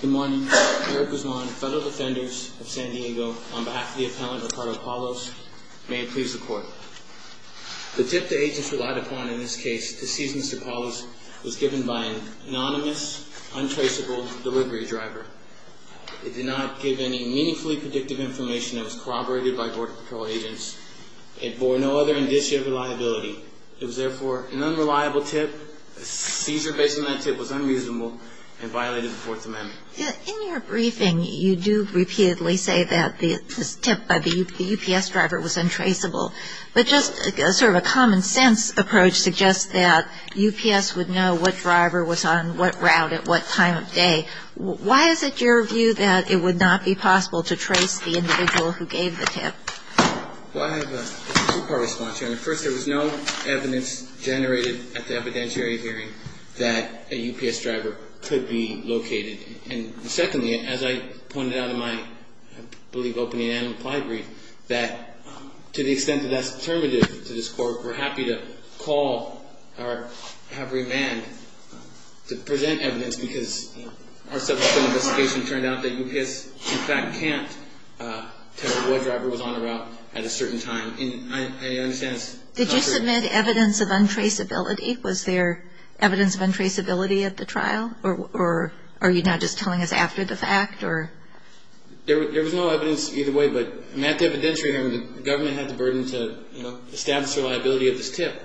Good morning. Eric Guzman, Federal Defenders of San Diego, on behalf of the Appellant Ricardo Palos, may it please the Court. The tip the agents relied upon in this case to seize Mr. Palos was given by an anonymous, untraceable delivery driver. It did not give any meaningfully predictive information that was corroborated by Border Patrol agents. It bore no other indicia of reliability. It was therefore an unreliable tip. The seizure based on that tip was unreasonable and violated the Fourth Amendment. In your briefing, you do repeatedly say that the tip by the UPS driver was untraceable. But just sort of a common sense approach suggests that UPS would know what driver was on what route at what time of day. Why is it your view that it would not be possible to trace the individual who gave the tip? Well, I have a two-part response, Your Honor. First, there was no evidence generated at the evidentiary hearing that a UPS driver could be located. And secondly, as I pointed out in my, I believe, opening and implied brief, that to the extent that that's determinative to this Court, we're happy to call or have remand to present evidence because our subsequent investigation turned out that UPS, in fact, can't tell what driver was on the route at a certain time. And I understand it's not for... Did you submit evidence of untraceability? Was there evidence of untraceability at the trial? Or are you now just telling us after the fact? There was no evidence either way, but at the evidentiary hearing, the government had the burden to establish the reliability of this tip.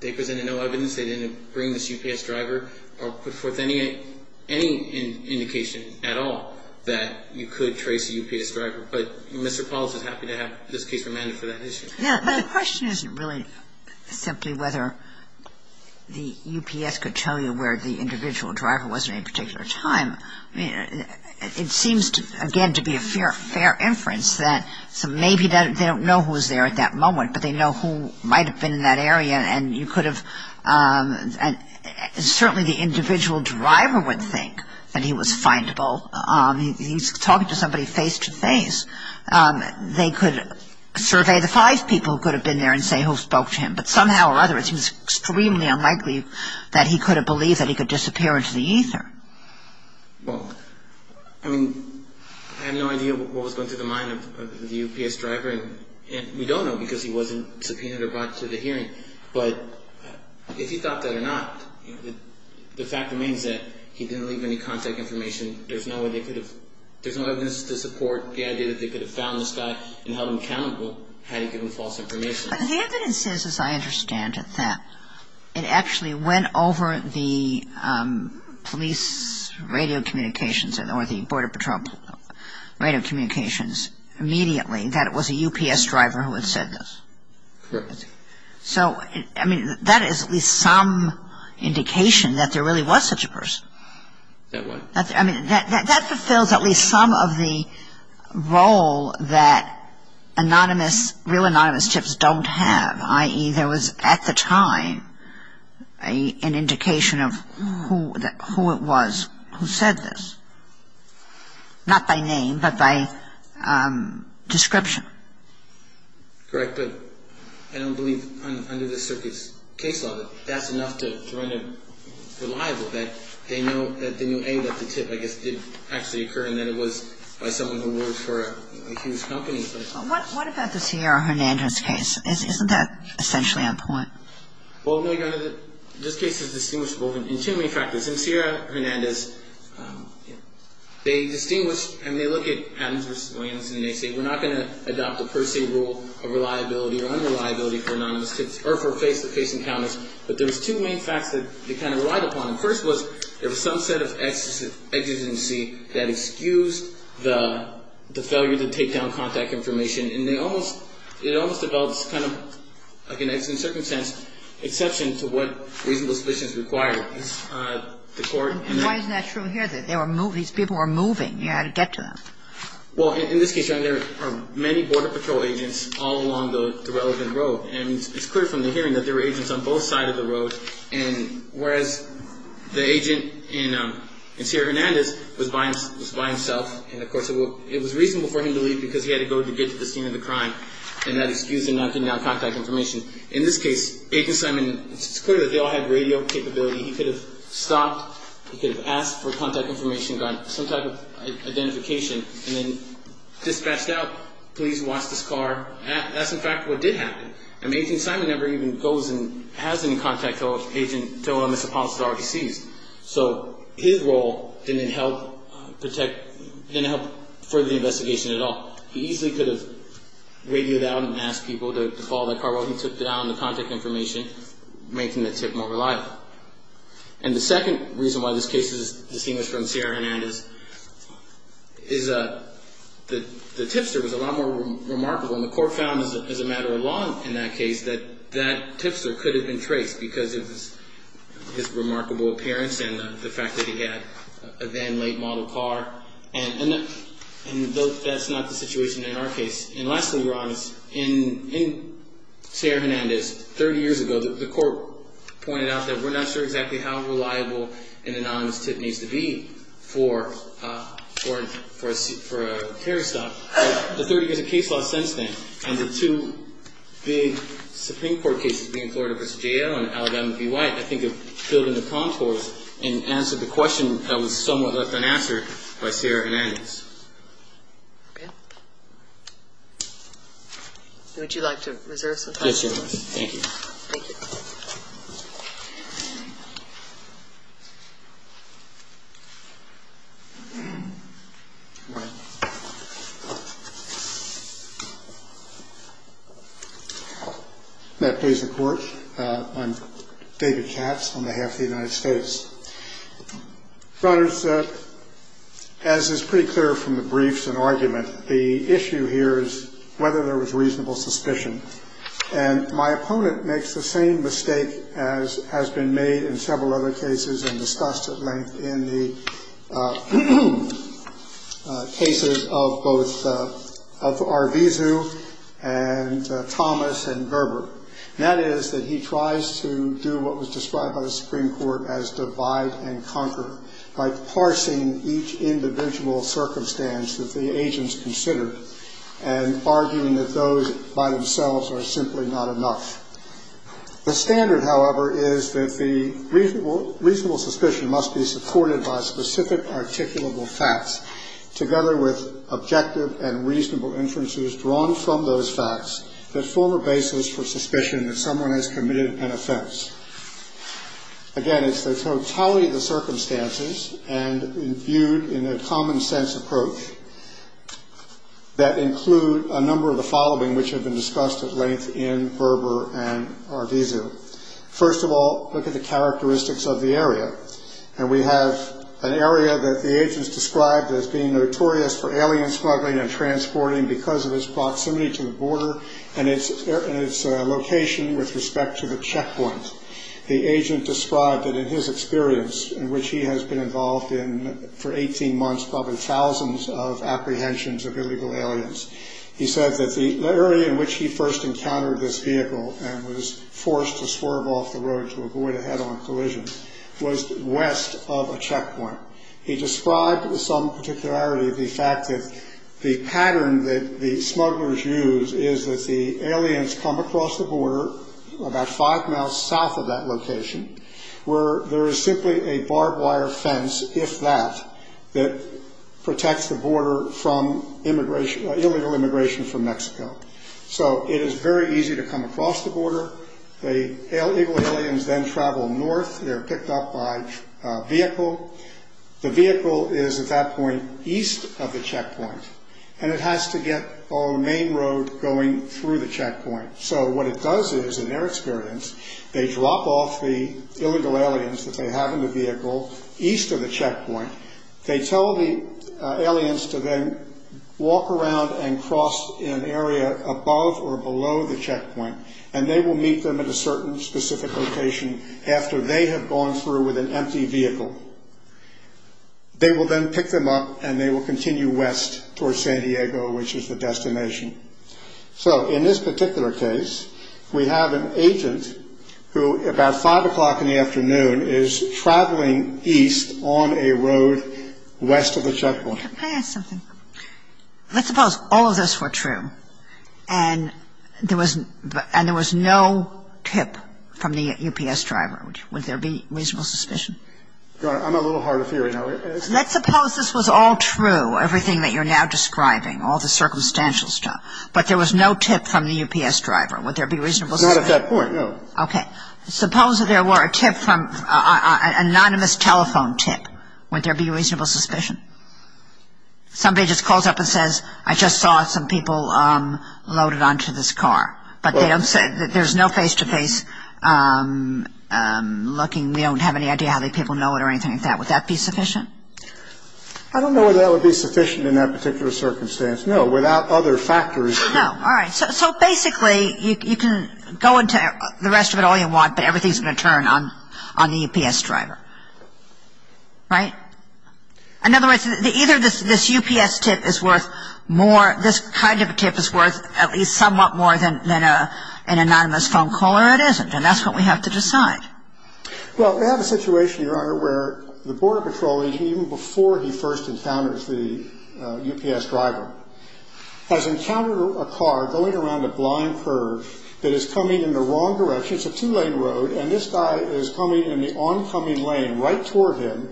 They presented no evidence. They didn't bring this UPS driver or put forth any indication at all that you could trace a UPS driver. But Mr. Pauls is happy to have this case remanded for that issue. Yeah, but the question isn't really simply whether the UPS could tell you where the individual driver was at any particular time. I mean, it seems, again, to be a fair inference that maybe they don't know who was there at that moment, but they know who might have been in that area, and you could have... Certainly the individual driver would think that he was findable. He's talking to somebody face-to-face. They could survey the five people who could have been there and say who spoke to him. But somehow or other, it seems extremely unlikely that he could have believed that he could disappear into the ether. Well, I mean, I had no idea what was going through the mind of the UPS driver, and we don't know because he wasn't subpoenaed or brought to the hearing. But if he thought that or not, the fact remains that he didn't leave any contact information. There's no evidence to support the idea that they could have found this guy and held him accountable had he given false information. The evidence is, as I understand it, that it actually went over the police radio communications or the Border Patrol radio communications immediately that it was a UPS driver who had said this. Correct. So, I mean, that is at least some indication that there really was such a person. That what? I mean, that fulfills at least some of the role that anonymous, real anonymous tips don't have, i.e. there was at the time an indication of who it was who said this, not by name but by description. Correct. But I don't believe under this circuit's case law that that's enough to render reliable that they knew, A, that the tip, I guess, did actually occur and that it was by someone who worked for a huge company. What about the Sierra Hernandez case? Isn't that essentially on point? Well, this case is distinguishable in two main factors. In Sierra Hernandez, they distinguish and they look at Adams v. Williams and they say we're not going to adopt the per se rule of reliability or unreliability for anonymous tips or for face-to-face encounters, but there's two main facts that they kind of relied upon. The first was there was some set of exigency that excused the failure to take down contact information and they almost, it almost developed kind of like an extreme circumstance exception to what reasonable suspicions require. And why isn't that true here? These people were moving. You had to get to them. Well, in this case, Your Honor, there are many border patrol agents all along the relevant road and it's clear from the hearing that there were agents on both sides of the road and whereas the agent in Sierra Hernandez was by himself and of course it was reasonable for him to leave because he had to go to get to the scene of the crime and that excused him from knocking down contact information. In this case, Agent Simon, it's clear that they all had radio capability. He could have stopped. He could have asked for contact information, gotten some type of identification and then dispatched out, please watch this car. That's in fact what did happen. I mean, Agent Simon never even goes and has any contact to an agent to whom he supposedly already seized. So his role didn't help protect, didn't help further the investigation at all. He easily could have radioed out and asked people to follow that car while he took down the contact information, making the tip more reliable. And the second reason why this case is distinguished from Sierra Hernandez is the tipster was a lot more remarkable and the court found as a matter of law in that case that that tipster could have been traced because of his remarkable appearance and the fact that he had a then late model car and that's not the situation in our case. And lastly, Ron, in Sierra Hernandez, 30 years ago, the court pointed out that we're not sure exactly how reliable an anonymous tip needs to be for a carry stop. But the 30 years of case law since then and the two big Supreme Court cases, being Florida v. J.L. and Alabama v. White, I think have filled in the contours and answered the question that was somewhat left unanswered by Sierra Hernandez. Okay. Would you like to reserve some time for this? Yes, Your Honor. Thank you. Thank you. Ron. May it please the Court. I'm David Katz on behalf of the United States. Your Honors, as is pretty clear from the briefs and argument, the issue here is whether there was reasonable suspicion. And my opponent makes the same mistake as has been made in several other cases and discussed at length in the cases of both Arvizu and Thomas and Gerber. And that is that he tries to do what was described by the Supreme Court as divide and conquer by parsing each individual circumstance that the agents considered and arguing that those by themselves are simply not enough. The standard, however, is that the reasonable suspicion must be supported by specific articulable facts, together with objective and reasonable inferences drawn from those facts that form a basis for suspicion that someone has committed an offense. Again, it's the totality of the circumstances and viewed in a common-sense approach that include a number of the following which have been discussed at length in Gerber and Arvizu. First of all, look at the characteristics of the area. And we have an area that the agents described as being notorious for alien smuggling and transporting because of its proximity to the border and its location with respect to the checkpoint. The agent described that in his experience, in which he has been involved in for 18 months, probably thousands of apprehensions of illegal aliens, he said that the area in which he first encountered this vehicle and was forced to swerve off the road to avoid a head-on collision was west of a checkpoint. He described with some particularity the fact that the pattern that the smugglers use is that the aliens come across the border about five miles south of that location where there is simply a barbed wire fence, if that, that protects the border from illegal immigration from Mexico. So it is very easy to come across the border. The illegal aliens then travel north. They are picked up by vehicle. The vehicle is at that point east of the checkpoint, and it has to get on the main road going through the checkpoint. So what it does is, in their experience, they drop off the illegal aliens that they have in the vehicle east of the checkpoint. They tell the aliens to then walk around and cross an area above or below the checkpoint, and they will meet them at a certain specific location after they have gone through with an empty vehicle. They will then pick them up, and they will continue west towards San Diego, which is the destination. So in this particular case, we have an agent who, about 5 o'clock in the afternoon, is traveling east on a road west of the checkpoint. Can I ask something? Let's suppose all of this were true, and there was no tip from the UPS driver. Would there be reasonable suspicion? Your Honor, I'm a little hard of hearing. Let's suppose this was all true, everything that you're now describing, all the circumstantial stuff, but there was no tip from the UPS driver. Would there be reasonable suspicion? Not at that point, no. Okay. Suppose that there were a tip from an anonymous telephone tip. Would there be reasonable suspicion? Somebody just calls up and says, I just saw some people loaded onto this car, but there's no face-to-face looking. We don't have any idea how many people know it or anything like that. Would that be sufficient? I don't know whether that would be sufficient in that particular circumstance. No, without other factors. No. All right. So basically, you can go into the rest of it all you want, but everything is going to turn on the UPS driver, right? In other words, either this UPS tip is worth more, this kind of a tip is worth at least somewhat more than an anonymous phone call, or it isn't, and that's what we have to decide. Well, we have a situation, Your Honor, where the Border Patrol, even before he first encounters the UPS driver, has encountered a car going around a blind curve that is coming in the wrong direction. It's a two-lane road, and this guy is coming in the oncoming lane right toward him,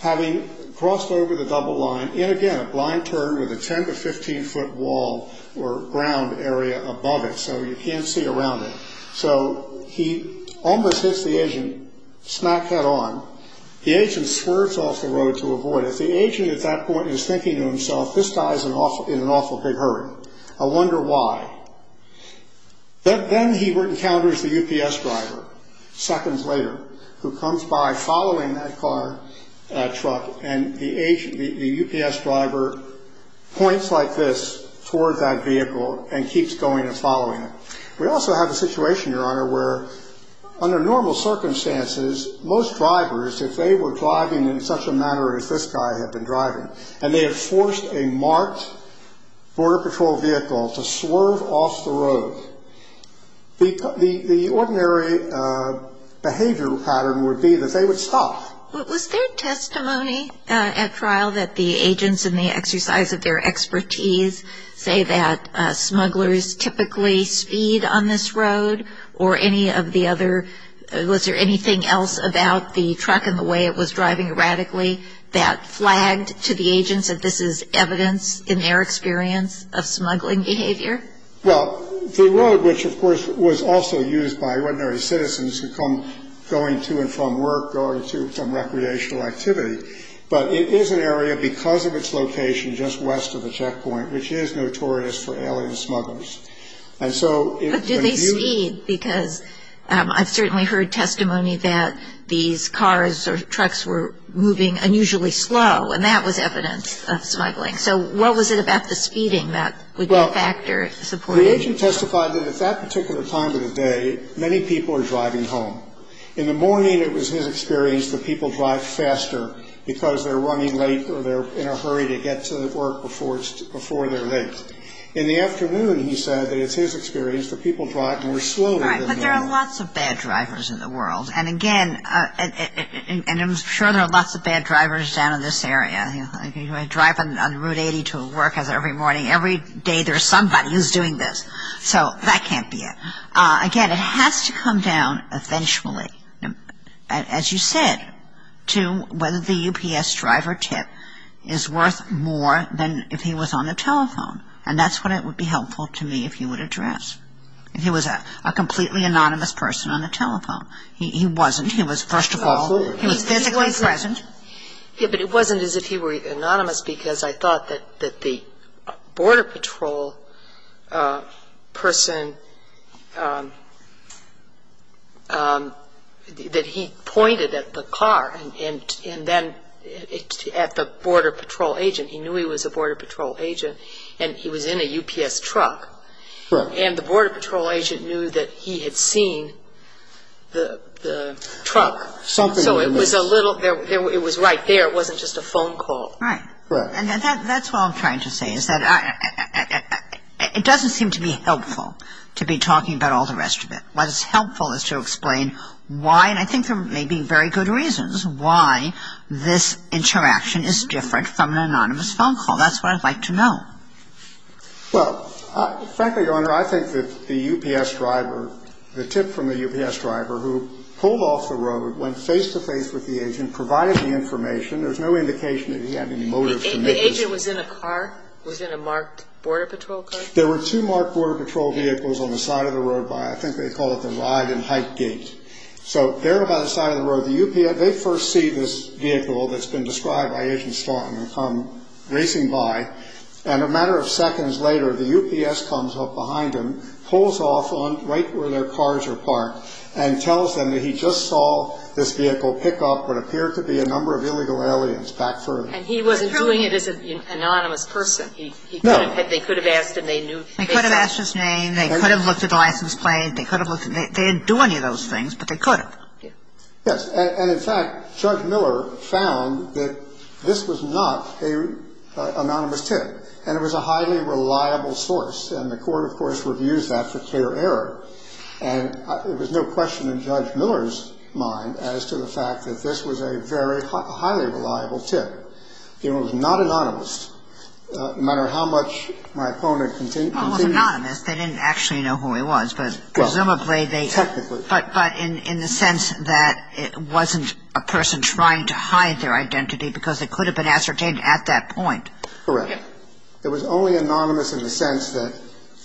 having crossed over the double line, in again a blind turn with a 10- to 15-foot wall or ground area above it, so you can't see around it. So he almost hits the agent, smack head on. The agent swerves off the road to avoid it. The agent at that point is thinking to himself, this guy is in an awful big hurry. I wonder why. Then he encounters the UPS driver seconds later, who comes by following that car, truck, and the UPS driver points like this toward that vehicle and keeps going and following it. We also have a situation, Your Honor, where under normal circumstances, most drivers, if they were driving in such a manner as this guy had been driving, and they had forced a marked Border Patrol vehicle to swerve off the road, the ordinary behavioral pattern would be that they would stop. Was there testimony at trial that the agents in the exercise of their expertise say that smugglers typically speed on this road or any of the other? Was there anything else about the truck and the way it was driving erratically that flagged to the agents that this is evidence in their experience of smuggling behavior? Well, the road, which of course was also used by ordinary citizens who come going to and from work, going to and from recreational activity, but it is an area because of its location just west of the checkpoint, which is notorious for alien smugglers. But do they speed? Because I've certainly heard testimony that these cars or trucks were moving unusually slow, and that was evidence of smuggling. So what was it about the speeding that would be a factor? Well, the agent testified that at that particular time of the day, many people are driving home. In the morning, it was his experience that people drive faster because they're running late or they're in a hurry to get to work before they're late. In the afternoon, he said that it's his experience that people drive more slowly than normal. Right, but there are lots of bad drivers in the world. And again, and I'm sure there are lots of bad drivers down in this area. You know, I drive on Route 80 to work every morning. Every day there's somebody who's doing this. So that can't be it. Again, it has to come down eventually, as you said, to whether the UPS driver tip is worth more than if he was on the telephone. And that's what it would be helpful to me if you would address. If he was a completely anonymous person on the telephone. He wasn't. He was, first of all, he was physically present. Yeah, but it wasn't as if he were anonymous because I thought that the Border Patrol person, that he pointed at the car and then at the Border Patrol agent. He knew he was a Border Patrol agent and he was in a UPS truck. And the Border Patrol agent knew that he had seen the truck. So it was a little, it was right there. It wasn't just a phone call. Right. Right. And that's what I'm trying to say is that it doesn't seem to be helpful to be talking about all the rest of it. What is helpful is to explain why, and I think there may be very good reasons, why this interaction is different from an anonymous phone call. That's what I'd like to know. Well, frankly, Your Honor, I think that the UPS driver, the tip from the UPS driver who pulled off the road, went face-to-face with the agent, provided the information. There's no indication that he had any motive to make this. The agent was in a car? Was in a marked Border Patrol car? There were two marked Border Patrol vehicles on the side of the road by, I think they call it the Ride and Hike Gate. So they're about the side of the road. The UPS, they first see this vehicle that's been described by Agent Slaughton and come racing by, and a matter of seconds later, the UPS comes up behind him, pulls off right where their cars are parked, and tells them that he just saw this vehicle pick up what appeared to be a number of illegal aliens back further. And he wasn't doing it as an anonymous person. No. They could have asked him. They knew. They could have asked his name. They could have looked at the license plate. They could have looked. They didn't do any of those things, but they could have. Yes. And, in fact, Judge Miller found that this was not an anonymous tip, and it was a highly reliable source. And the Court, of course, reviews that for clear error. And there was no question in Judge Miller's mind as to the fact that this was a very highly reliable tip. It was not anonymous, no matter how much my opponent continued. Well, it was anonymous. They didn't actually know who he was, but presumably they. Technically. But in the sense that it wasn't a person trying to hide their identity because it could have been ascertained at that point. Correct. It was only anonymous in the sense that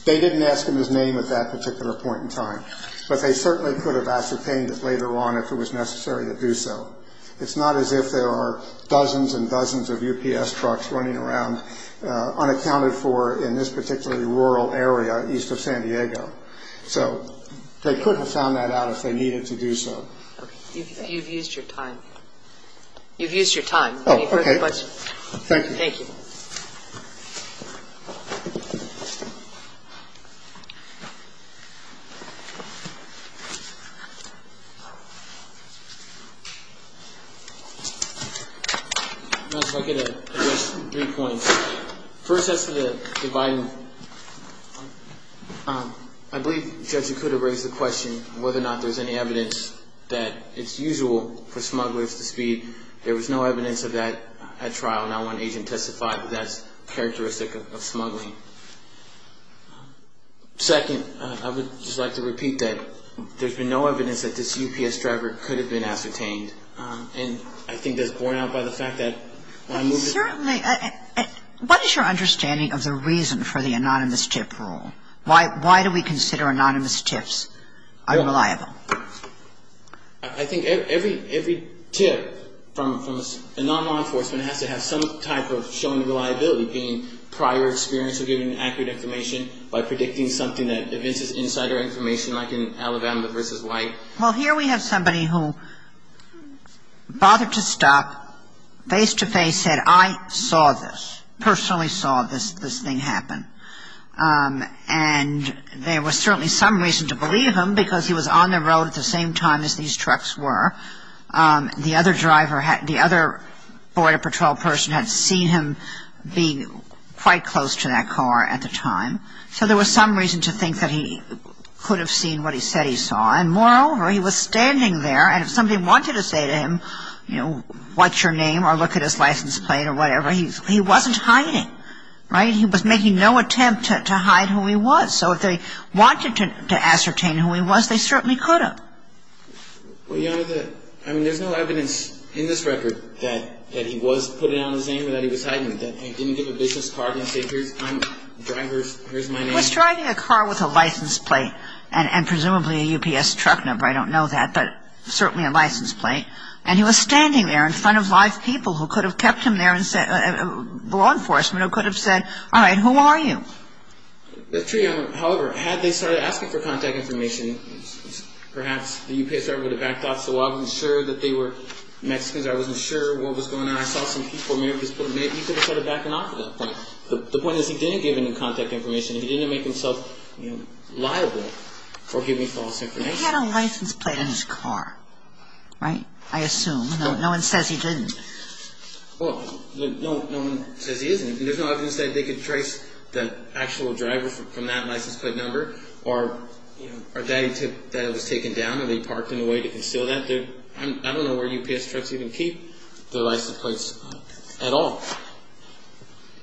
they didn't ask him his name at that particular point in time. But they certainly could have ascertained it later on if it was necessary to do so. It's not as if there are dozens and dozens of UPS trucks running around unaccounted for in this particularly rural area east of San Diego. So they could have found that out if they needed to do so. Okay. You've used your time. You've used your time. Oh, okay. Thank you. Thank you. Thank you. If I could address three points. First, as for the Biden, I believe the judge could have raised the question whether or not there's any evidence that it's usual for smugglers to speed. There was no evidence of that at trial. Not one agent testified that that's characteristic of smuggling. Second, I would just like to repeat that. There's been no evidence that this UPS driver could have been ascertained. And I think that's borne out by the fact that when I moved to the court. Certainly. What is your understanding of the reason for the anonymous tip rule? Why do we consider anonymous tips unreliable? I think every tip from a non-law enforcement has to have some type of shown reliability, being prior experience of getting accurate information by predicting something that evinces insider information like in Alabama v. White. Well, here we have somebody who bothered to stop, face-to-face said, I saw this, personally saw this thing happen. And there was certainly some reason to believe him because he was on the road at the same time as these trucks were. The other driver, the other border patrol person had seen him being quite close to that car at the time. So there was some reason to think that he could have seen what he said he saw. And moreover, he was standing there and if somebody wanted to say to him, you know, what's your name or look at his license plate or whatever, he wasn't hiding. Right? He was making no attempt to hide who he was. So if they wanted to ascertain who he was, they certainly could have. Well, Your Honor, I mean, there's no evidence in this record that he was putting out his name or that he was hiding it, that he didn't give a business card and say, here's my name. He was driving a car with a license plate and presumably a UPS truck number. I don't know that, but certainly a license plate. And he was standing there in front of live people who could have kept him there and the law enforcement could have said, all right, who are you? Your Honor, however, had they started asking for contact information, perhaps the UPS driver would have backed off. So I wasn't sure that they were Mexicans. I wasn't sure what was going on. I saw some people, maybe he could have started backing off at that point. The point is he didn't give any contact information. He didn't make himself liable for giving false information. He had a license plate on his car. Right? I assume. No one says he didn't. Well, no one says he isn't. There's no evidence that they could trace the actual driver from that license plate number or that it was taken down or they parked in a way to conceal that. I don't know where UPS trucks even keep their license plates at all.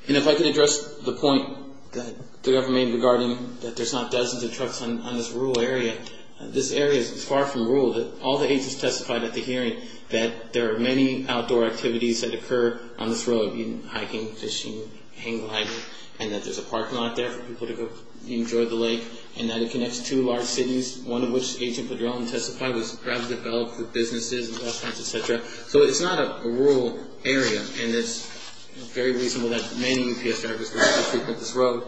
And if I could address the point that the government made regarding that there's not dozens of trucks on this rural area. This area is far from rural. All the agents testified at the hearing that there are many outdoor activities that occur on this road, hiking, fishing, hang gliding, and that there's a parking lot there for people to go enjoy the lake and that it connects two large cities, one of which Agent Padrón testified was perhaps developed for businesses and restaurants, et cetera. So it's not a rural area, and it's very reasonable that many UPS drivers would frequent this road.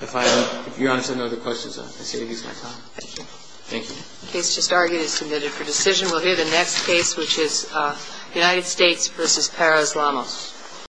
If you're honest, I know the questions. I say to you it's my time. Thank you. Thank you. The case just argued is submitted for decision. We'll hear the next case, which is United States v. Para-Islamos.